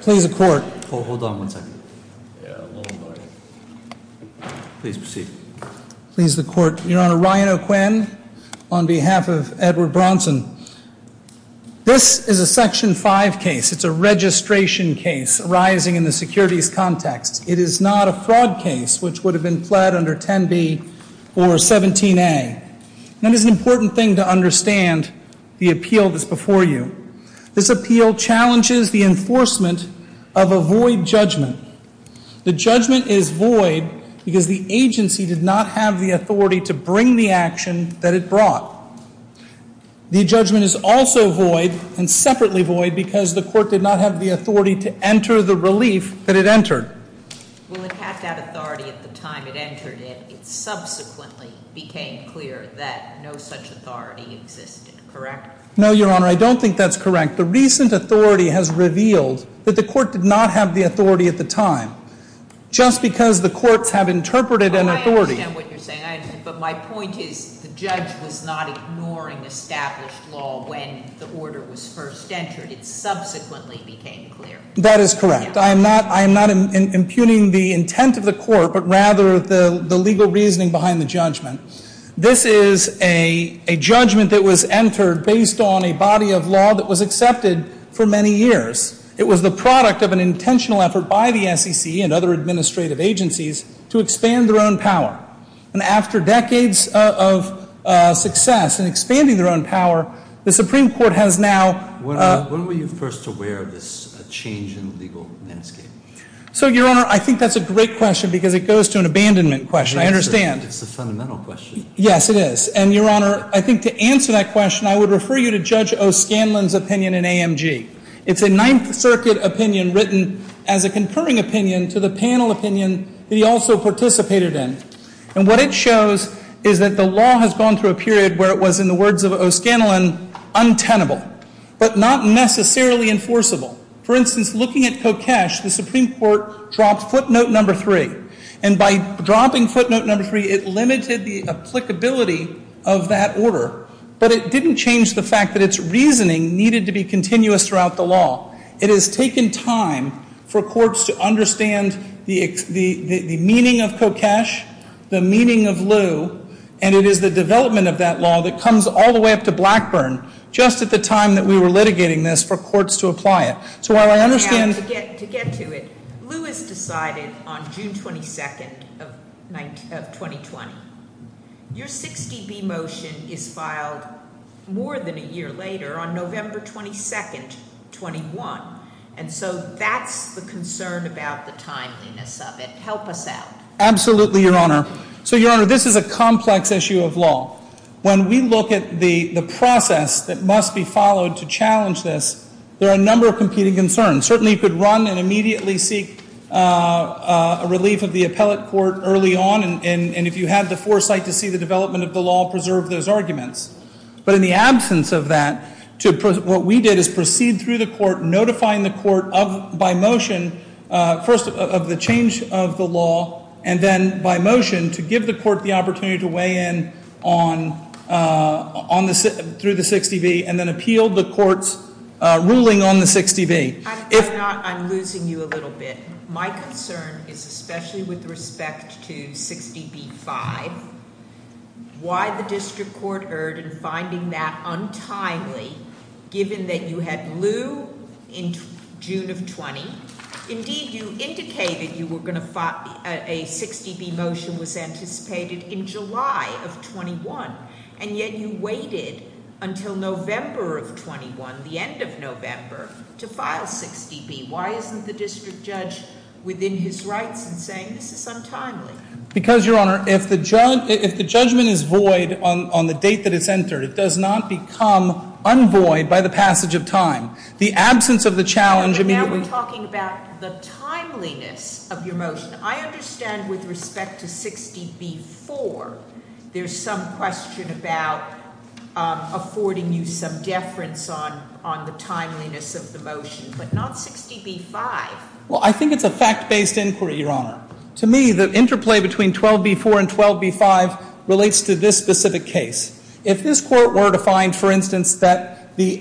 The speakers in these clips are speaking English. Please the court. Hold on one second. Please proceed. Please the court. Your Honor, Ryan O'Quinn on behalf of Edward Bronson. This is a section 5 case. It's a registration case arising in the securities context. It is not a fraud case which would have been fled under 10b or 17a. That is an important thing to understand the appeal that's before you. This appeal challenges the enforcement of a void judgment. The judgment is void because the agency did not have the authority to bring the action that it brought. The judgment is also void and separately void because the court did not have the authority to correct? No, Your Honor, I don't think that's correct. The recent authority has revealed that the court did not have the authority at the time. Just because the courts have interpreted an authority. But my point is the judge was not ignoring established law when the order was first entered. It subsequently became clear. That is correct. I am not I am not impugning the intent of the court but rather the the judgment that was entered based on a body of law that was accepted for many years. It was the product of an intentional effort by the SEC and other administrative agencies to expand their own power. And after decades of success and expanding their own power, the Supreme Court has now. When were you first aware of this change in legal landscape? So, Your Honor, I think that's a great question because it goes to an abandonment question. I understand. It's a I think to answer that question I would refer you to Judge O'Scanlan's opinion in AMG. It's a Ninth Circuit opinion written as a concurring opinion to the panel opinion that he also participated in. And what it shows is that the law has gone through a period where it was, in the words of O'Scanlan, untenable. But not necessarily enforceable. For instance, looking at Kokesh, the Supreme Court dropped footnote number three. And by dropping footnote number three, it But it didn't change the fact that its reasoning needed to be continuous throughout the law. It has taken time for courts to understand the meaning of Kokesh, the meaning of Liu, and it is the development of that law that comes all the way up to Blackburn, just at the time that we were litigating this for courts to apply it. So while I understand... To get to it, Liu has decided on June 22nd of 2020, your 60B motion is filed more than a year later on November 22nd, 21. And so that's the concern about the timeliness of it. Help us out. Absolutely, Your Honor. So, Your Honor, this is a complex issue of law. When we look at the process that must be followed to challenge this, there are a number of competing concerns. Certainly you could run and immediately seek a relief of the appellate court early on, and if you had the foresight to see the development of the law, preserve those arguments. But in the absence of that, what we did is proceed through the court, notifying the court of, by motion, first of the change of the law, and then by motion, to give the court the opportunity to weigh in on through the 60B, and then appeal the court's ruling on the 60B. If not, I'm losing you a little bit. My concern is, especially with respect to 60B-5, why the district court erred in finding that untimely, given that you had Liu in June of 20. Indeed, you indicated you were going to file a 60B motion was anticipated in July of 21, and yet you waited until November of 21, the end of 60B. Why isn't the district judge within his rights in saying this is untimely? Because, Your Honor, if the judgment is void on the date that it's entered, it does not become unvoid by the passage of time. The absence of the challenge immediately... But now we're talking about the timeliness of your motion. I understand with respect to 60B-4, there's some question about affording you some deference on the timeliness of the motion, but not 60B-5. Well, I think it's a fact-based inquiry, Your Honor. To me, the interplay between 12B-4 and 12B-5 relates to this specific case. If this court were to find, for instance, that the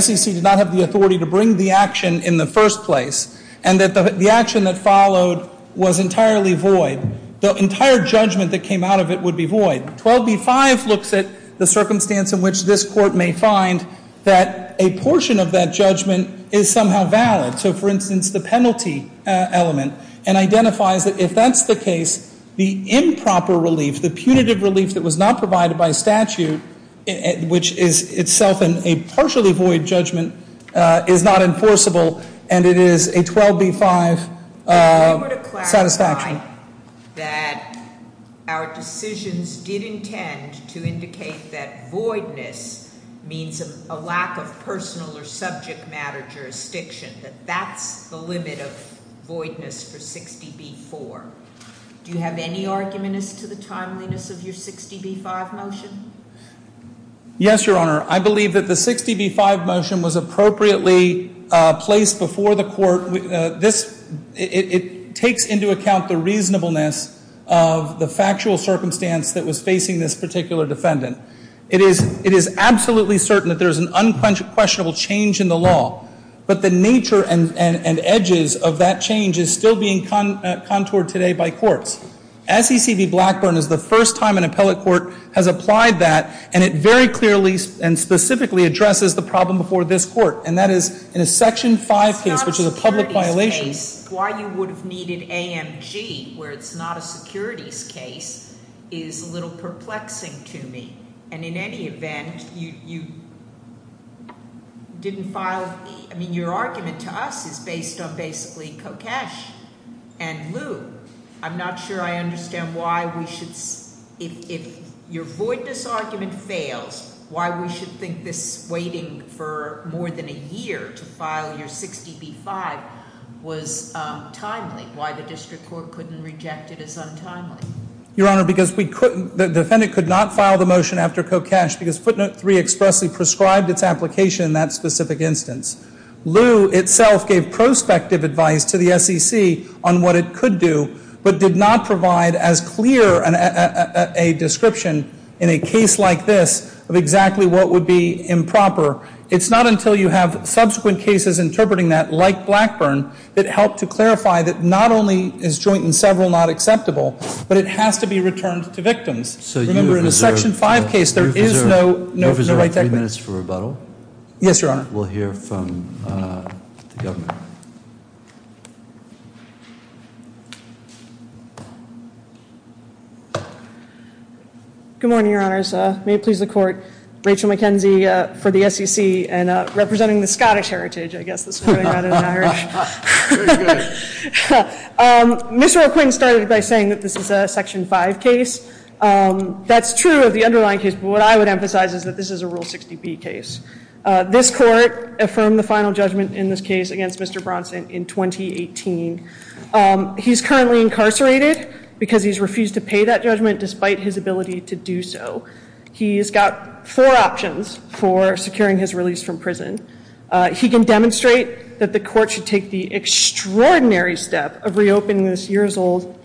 SEC did not have the authority to bring the action in the first place, and that the action that followed was entirely void, the entire judgment that came out of it would be void. 12B-5 looks at the circumstance in which this court may find that a portion of that judgment is somehow valid. So, for instance, the penalty element, and identifies that if that's the case, the improper relief, the punitive relief that was not provided by statute, which is itself a partially void judgment, is not enforceable, and it is a 12B-5 satisfaction. If you were to clarify that our decisions did intend to indicate that voidness means a lack of personal or subject matter jurisdiction, that that's the limit of voidness for 60B-4, do you have any argument as to the timeliness of your 60B-5 motion? Yes, Your Honor. I believe that the 60B-5 motion was appropriately placed before the court. It takes into account the reasonableness of the factual circumstance that was facing this particular defendant. It is absolutely certain that there's an unquestionable change in the law, but the nature and edges of that change is still being contoured today by courts. SEC v. Blackburn is the first time an appellate court has applied that, and it is in a Section 5 case, which is a public violation. It's not a securities case. Why you would have needed AMG, where it's not a securities case, is a little perplexing to me. And in any event, you didn't file, I mean, your argument to us is based on basically Kokesh and Liu. I'm not sure I understand why we should, if your voidness argument fails, why we should think this waiting for more than 60B-5 is a violation of the statute. Waiting more than a year to file your 60B-5 was timely. Why the district court couldn't reject it is untimely. Your Honor, because we couldn't, the defendant could not file the motion after Kokesh because Footnote 3 expressly prescribed its application in that specific instance. Liu itself gave prospective advice to the SEC on what it could do, but did not provide as clear a description in a case like this of exactly what would be improper. It's not until you have subsequent cases interpreting that, like Blackburn, that help to clarify that not only is joint and several not acceptable, but it has to be returned to victims. So you reserve three minutes for rebuttal? Yes, Your Honor. We'll hear from the Governor. Good morning, Your Honors. May it please the Court. Rachel McKenzie for the SEC and representing the Scottish heritage, I guess, this morning rather than Irish. Mr. McQuinn started by saying that this is a Section 5 case. That's true of the underlying case, but what I would emphasize is that this is a Rule 60B case. This court affirmed the final judgment in this case against Mr. Bronson in 2018. He's currently incarcerated because he's refused to pay that judgment despite his ability to do so. He's got four options for securing his release from prison. He can demonstrate that the court should take the extraordinary step of reopening this years-old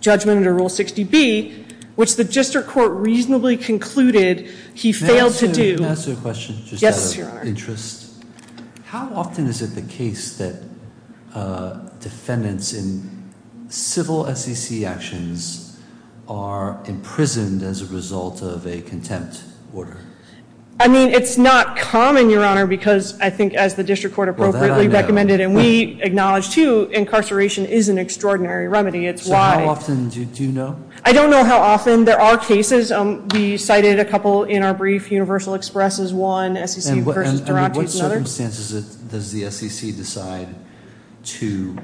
judgment under Rule 60B, which the district court reasonably concluded he failed to do. Can I ask you a question, just out of interest? Yes, Your Honor. How often is it the case that defendants in civil SEC actions are imprisoned as a result of a contempt order? I mean, it's not common, Your Honor, because I think as the district court appropriately recommended and we acknowledge too, incarceration is an extraordinary remedy. It's why. How often do you know? I don't know how often. There are cases. We cited a couple in our brief. Universal Express is one. What circumstances does the SEC decide to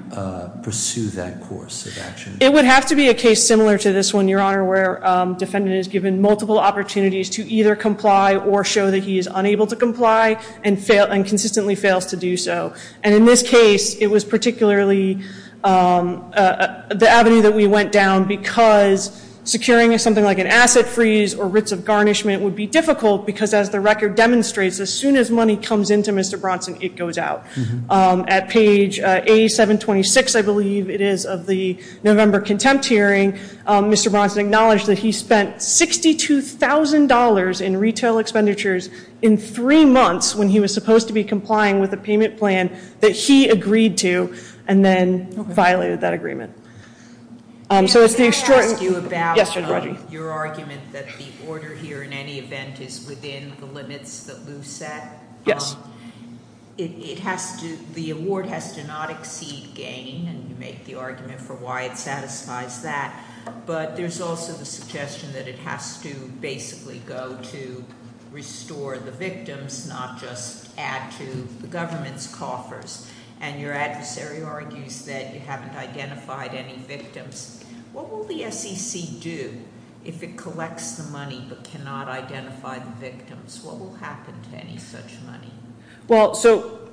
pursue that course of action? It would have to be a case similar to this one, Your Honor, where defendant is given multiple opportunities to either comply or show that he is unable to comply and consistently fails to do so. And in this case, it was particularly the avenue that we went down because securing something like an asset freeze or writs of garnishment would be difficult because as the record demonstrates, as soon as money comes into Mr. Bronson, it goes out. At page A726, I believe it is, of the November contempt hearing, Mr. Bronson acknowledged that he spent $62,000 in retail expenditures in three months when he was supposed to be complying with a payment plan that he agreed to and then violated that agreement. Can I ask you about your argument that the order here in any event is within the limits that Lou set? Yes. The award has to not exceed gain, and you make the argument for why it satisfies that. But there's also the suggestion that it has to basically go to restore the victims, not just add to the government's coffers. And your adversary argues that you haven't identified any victims. What will the SEC do if it collects the money but cannot identify the victims? What will happen to any such money? Well, so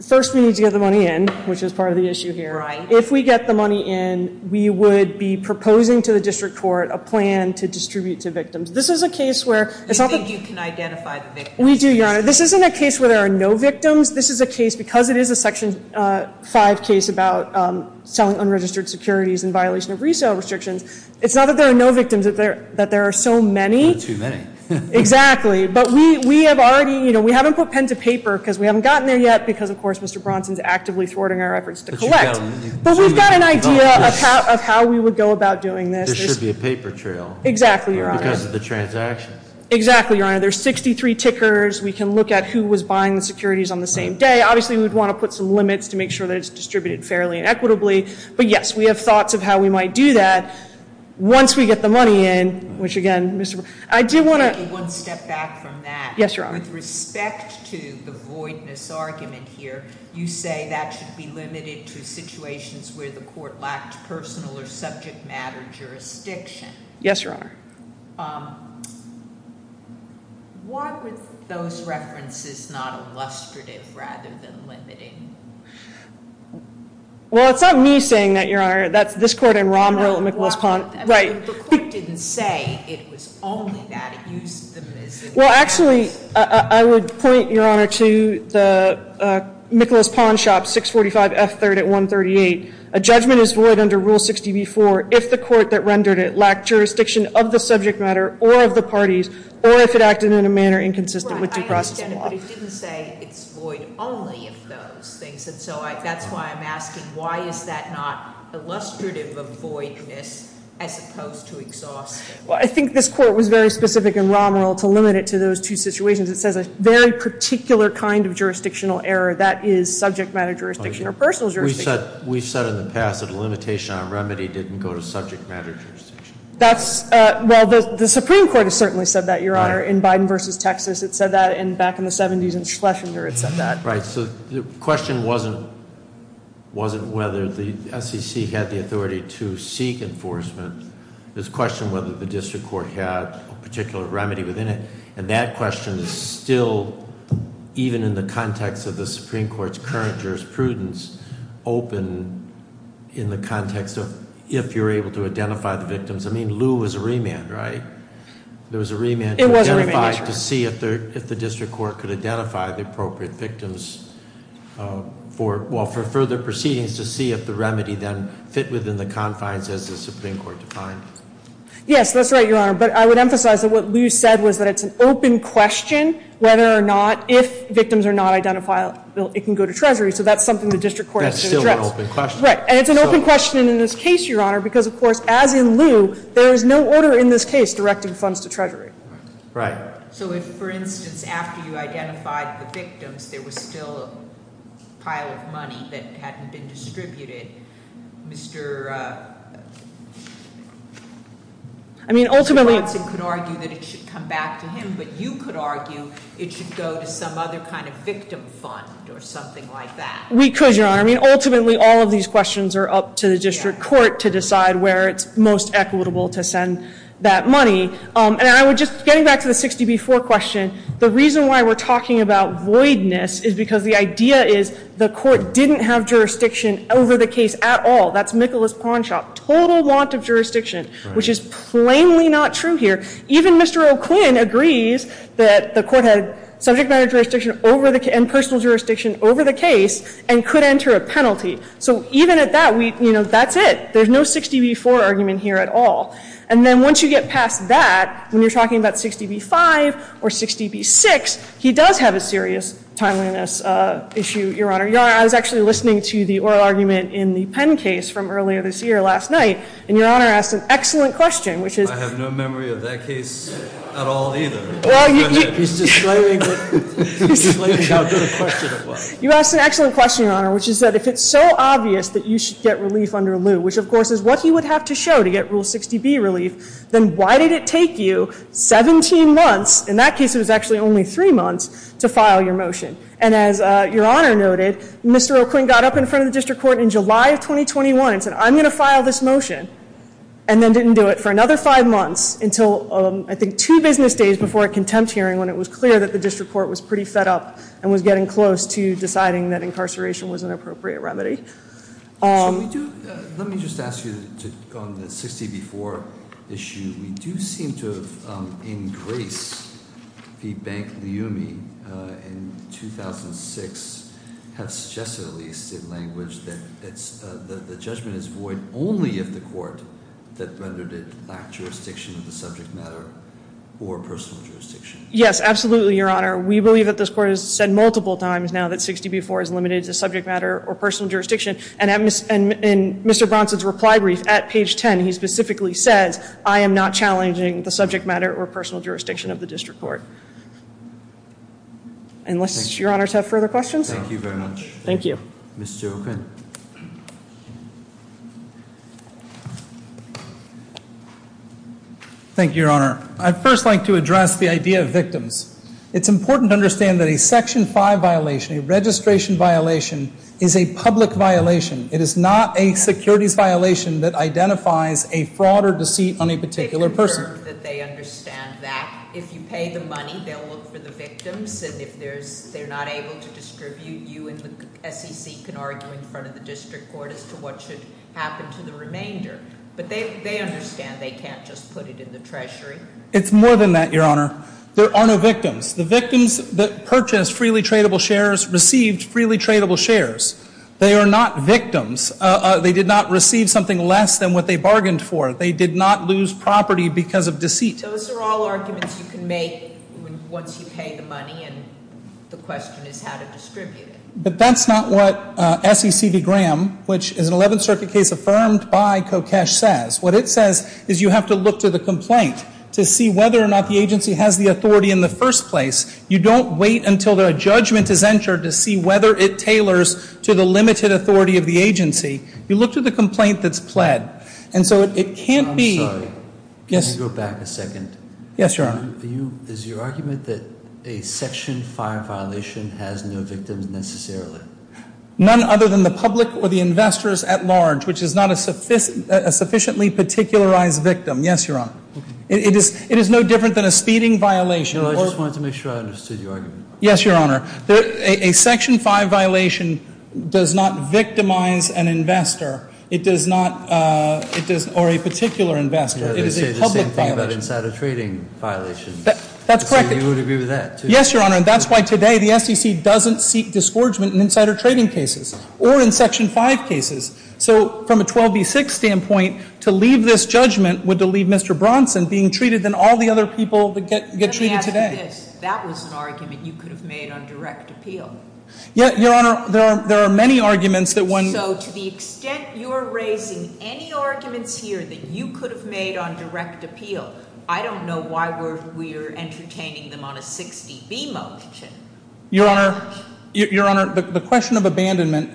first we need to get the money in, which is part of the issue here. If we get the money in, we would be proposing to the district court a plan to distribute to victims. This is a case where... You think you can identify the victims? We do, Your Honor. This isn't a case where there are no victims. This is a case, because it is a Section 5 case about selling unregistered securities in violation of resale restrictions, it's not that there are no victims, it's that there are so many. Too many. Exactly. But we have already, you know, we haven't put pen to paper, because we haven't gotten there yet, because of course Mr. Bronson's actively thwarting our efforts to collect. But we've got an idea of how we would go about doing this. There should be a paper trail. Exactly, Your Honor. Because of the transaction. Exactly, Your Honor. There's 63 tickers. We can look at who was buying the securities on the same day. Obviously we'd want to put some limits to make sure that it's distributed fairly and equitably. But yes, we have thoughts of how we might do that once we get the money in, which again, Mr. Bronson... I do want to take one step back from that. Yes, Your Honor. With respect to the voidness argument here, you say that should be limited to situations where the court lacked personal or subject matter jurisdiction. Yes, Your Honor. Why were those references not illustrative rather than limiting? Well, it's not me saying that, Your Honor. That's this court and Romerill and Nicholas Pawn. Right. The court didn't say it was only that it used them as... Well, actually, I would point, Your Honor, to the Nicholas Pawn shop, 645 F3rd at 138. A judgment is void under Rule 60b-4 if the court that rendered it lacked jurisdiction of the subject matter or of the parties, or if it acted in a manner inconsistent with due process law. But it didn't say it's void only of those things. And so that's why I'm asking, why is that not illustrative of voidness as opposed to exhausting? Well, I think this court was very specific in Romerill to limit it to those two situations. It says a very particular kind of jurisdictional error that is subject matter jurisdiction or personal jurisdiction. We've said in the past that a limitation on remedy didn't go to subject matter jurisdiction. Well, the Supreme Court has certainly said that, Your Honor, in Biden v. Texas. It said that back in the 70s in Schlesinger. It said that. Right. So the question wasn't whether the SEC had the authority to seek enforcement. It was a question whether the district court had a particular remedy within it. And that question is still, even in the context of the Supreme Court's current jurisprudence, open in the context of if you're able to identify the victims. I mean, Lew was a remand, right? There was a remand to identify- It was a remand. If the district court could identify the appropriate victims for further proceedings to see if the remedy then fit within the confines as the Supreme Court defined. Yes, that's right, Your Honor. But I would emphasize that what Lew said was that it's an open question whether or not, if victims are not identified, it can go to Treasury. So that's something the district court has to address. That's still an open question. Right. And it's an open question in this case, Your Honor, because, of course, as in Lew, there is no order in this case directing funds to Treasury. Right. So if, for instance, after you identified the victims there was still a pile of money that hadn't been distributed, Mr. Watson could argue that it should come back to him, but you could argue it should go to some other kind of victim fund or something like that. We could, Your Honor. I mean, ultimately, all of these questions are up to the district court to decide where it's most equitable to send that money. And I would just, getting back to the 60 v. 4 question, the reason why we're talking about voidness is because the idea is the court didn't have jurisdiction over the case at all. That's Michaelis-Pawnshop. Total want of jurisdiction, which is plainly not true here. Even Mr. O'Quinn agrees that the court had subject matter jurisdiction and personal jurisdiction over the case and could enter a penalty. So even at that, you know, that's it. There's no 60 v. 4 argument here at all. And then once you get past that, when you're talking about 60 v. 5 or 60 v. 6, he does have a serious timeliness issue, Your Honor. Your Honor, I was actually listening to the oral argument in the Penn case from earlier this year last night, and Your Honor asked an excellent question, which is- I have no memory of that case at all either. He's just explaining how good a question it was. You asked an excellent question, Your Honor, which is that if it's so obvious that you should get relief under lieu, which of course is what he would have to show to get Rule 60B relief, then why did it take you 17 months, in that case it was actually only three months, to file your motion? And as Your Honor noted, Mr. O'Quinn got up in front of the district court in July of 2021 and said, I'm going to file this motion, and then didn't do it for another five months until, I think, two business days before a contempt hearing when it was clear that the district court was pretty fed up and was getting close to deciding that incarceration was an appropriate remedy. Let me just ask you, on the 60B4 issue, we do seem to have, in grace, the bank liumi in 2006 have suggested, at least in language, that the judgment is void only if the court that rendered it lacked jurisdiction of the subject matter or personal jurisdiction. Yes, absolutely, Your Honor. We believe that this court has said multiple times now that 60B4 is limited to subject matter or personal jurisdiction, and in Mr. Bronson's reply brief at page 10, he specifically says, I am not challenging the subject matter or personal jurisdiction of the district court. Unless Your Honor has further questions? Thank you very much. Thank you. Mr. O'Quinn. Thank you, Your Honor. I'd first like to address the idea of victims. It's important to understand that a Section 5 violation, a registration violation, is a public violation. It is not a securities violation that identifies a fraud or deceit on a particular person. They confirm that they understand that. If you pay the money, they'll look for the victims. And if they're not able to distribute, you and the SEC can argue in front of the district court as to what should happen to the remainder. But they understand they can't just put it in the treasury. It's more than that, Your Honor. There are no victims. The victims that purchased freely tradable shares received freely tradable shares. They are not victims. They did not receive something less than what they bargained for. They did not lose property because of deceit. So those are all arguments you can make once you pay the money, and the question is how to distribute it. But that's not what SECB Graham, which is an Eleventh Circuit case affirmed by Kokesh, says. What it says is you have to look to the complaint to see whether or not the agency has the authority in the first place. You don't wait until a judgment is entered to see whether it tailors to the limited authority of the agency. You look to the complaint that's pled. And so it can't be— I'm sorry. Yes? Can you go back a second? Yes, Your Honor. Is your argument that a Section 5 violation has no victims necessarily? None other than the public or the investors at large, which is not a sufficiently particularized victim. Yes, Your Honor. It is no different than a speeding violation. No, I just wanted to make sure I understood your argument. Yes, Your Honor. A Section 5 violation does not victimize an investor. It does not—or a particular investor. It is a public violation. Yeah, they say the same thing about insider trading violations. That's correct. So you would agree with that, too? Yes, Your Honor. And that's why today the SEC doesn't seek disgorgement in insider trading cases or in Section 5 cases. So from a 12B6 standpoint, to leave this judgment would to leave Mr. Bronson being treated than all the other people that get treated today. Let me ask you this. That was an argument you could have made on direct appeal. Yeah, Your Honor. There are many arguments that when— So to the extent you are raising any arguments here that you could have made on direct appeal, I don't know why we're entertaining them on a 60B motion. Your Honor, Your Honor, the question of abandonment,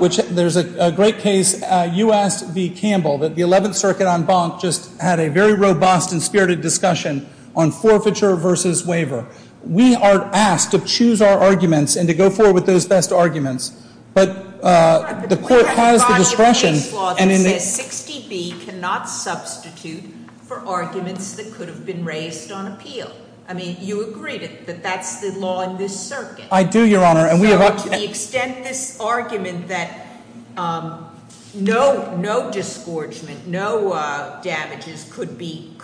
which there's a great case, U.S. v. Campbell, that the 11th Circuit en banc just had a very robust and spirited discussion on forfeiture versus waiver. We are asked to choose our arguments and to go forward with those best arguments. Your Honor, but we have a body of case law that says 60B cannot substitute for arguments that could have been raised on appeal. I mean, you agreed that that's the law in this circuit. I do, Your Honor. So to the extent this argument that no disgorgement, no damages could be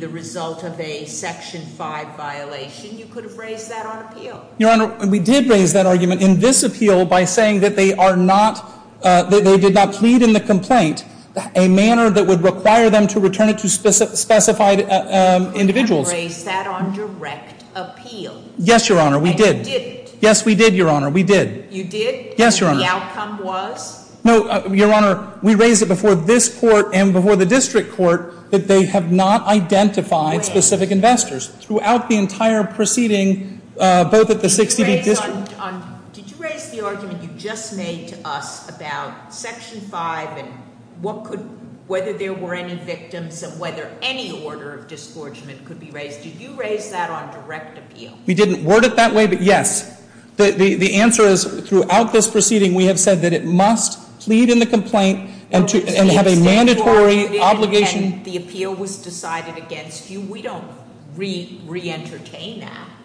the result of a Section 5 violation, you could have raised that on appeal. Your Honor, we did raise that argument in this appeal by saying that they are not—that they did not plead in the complaint a manner that would require them to return it to specified individuals. You didn't raise that on direct appeal. Yes, Your Honor, we did. And you didn't. Yes, we did, Your Honor, we did. You did? Yes, Your Honor. And the outcome was? No, Your Honor, we raised it before this court and before the district court that they have not identified specific investors. Throughout the entire proceeding, both at the 60B district— Did you raise the argument you just made to us about Section 5 and what could—whether there were any victims and whether any order of disgorgement could be raised? Did you raise that on direct appeal? We didn't word it that way, but yes. The answer is, throughout this proceeding, we have said that it must plead in the complaint and have a mandatory obligation—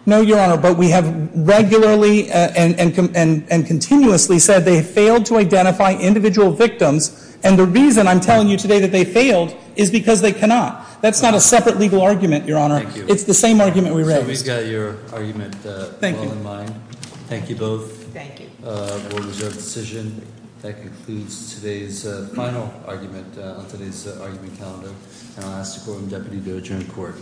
No, Your Honor, but we have regularly and continuously said they failed to identify individual victims, and the reason I'm telling you today that they failed is because they cannot. That's not a separate legal argument, Your Honor. Thank you. It's the same argument we raised. So we've got your argument well in mind. Thank you. Thank you both. Thank you. That concludes today's final argument on today's argument calendar, and I'll ask the Courtroom Deputy to adjourn court. Thank you.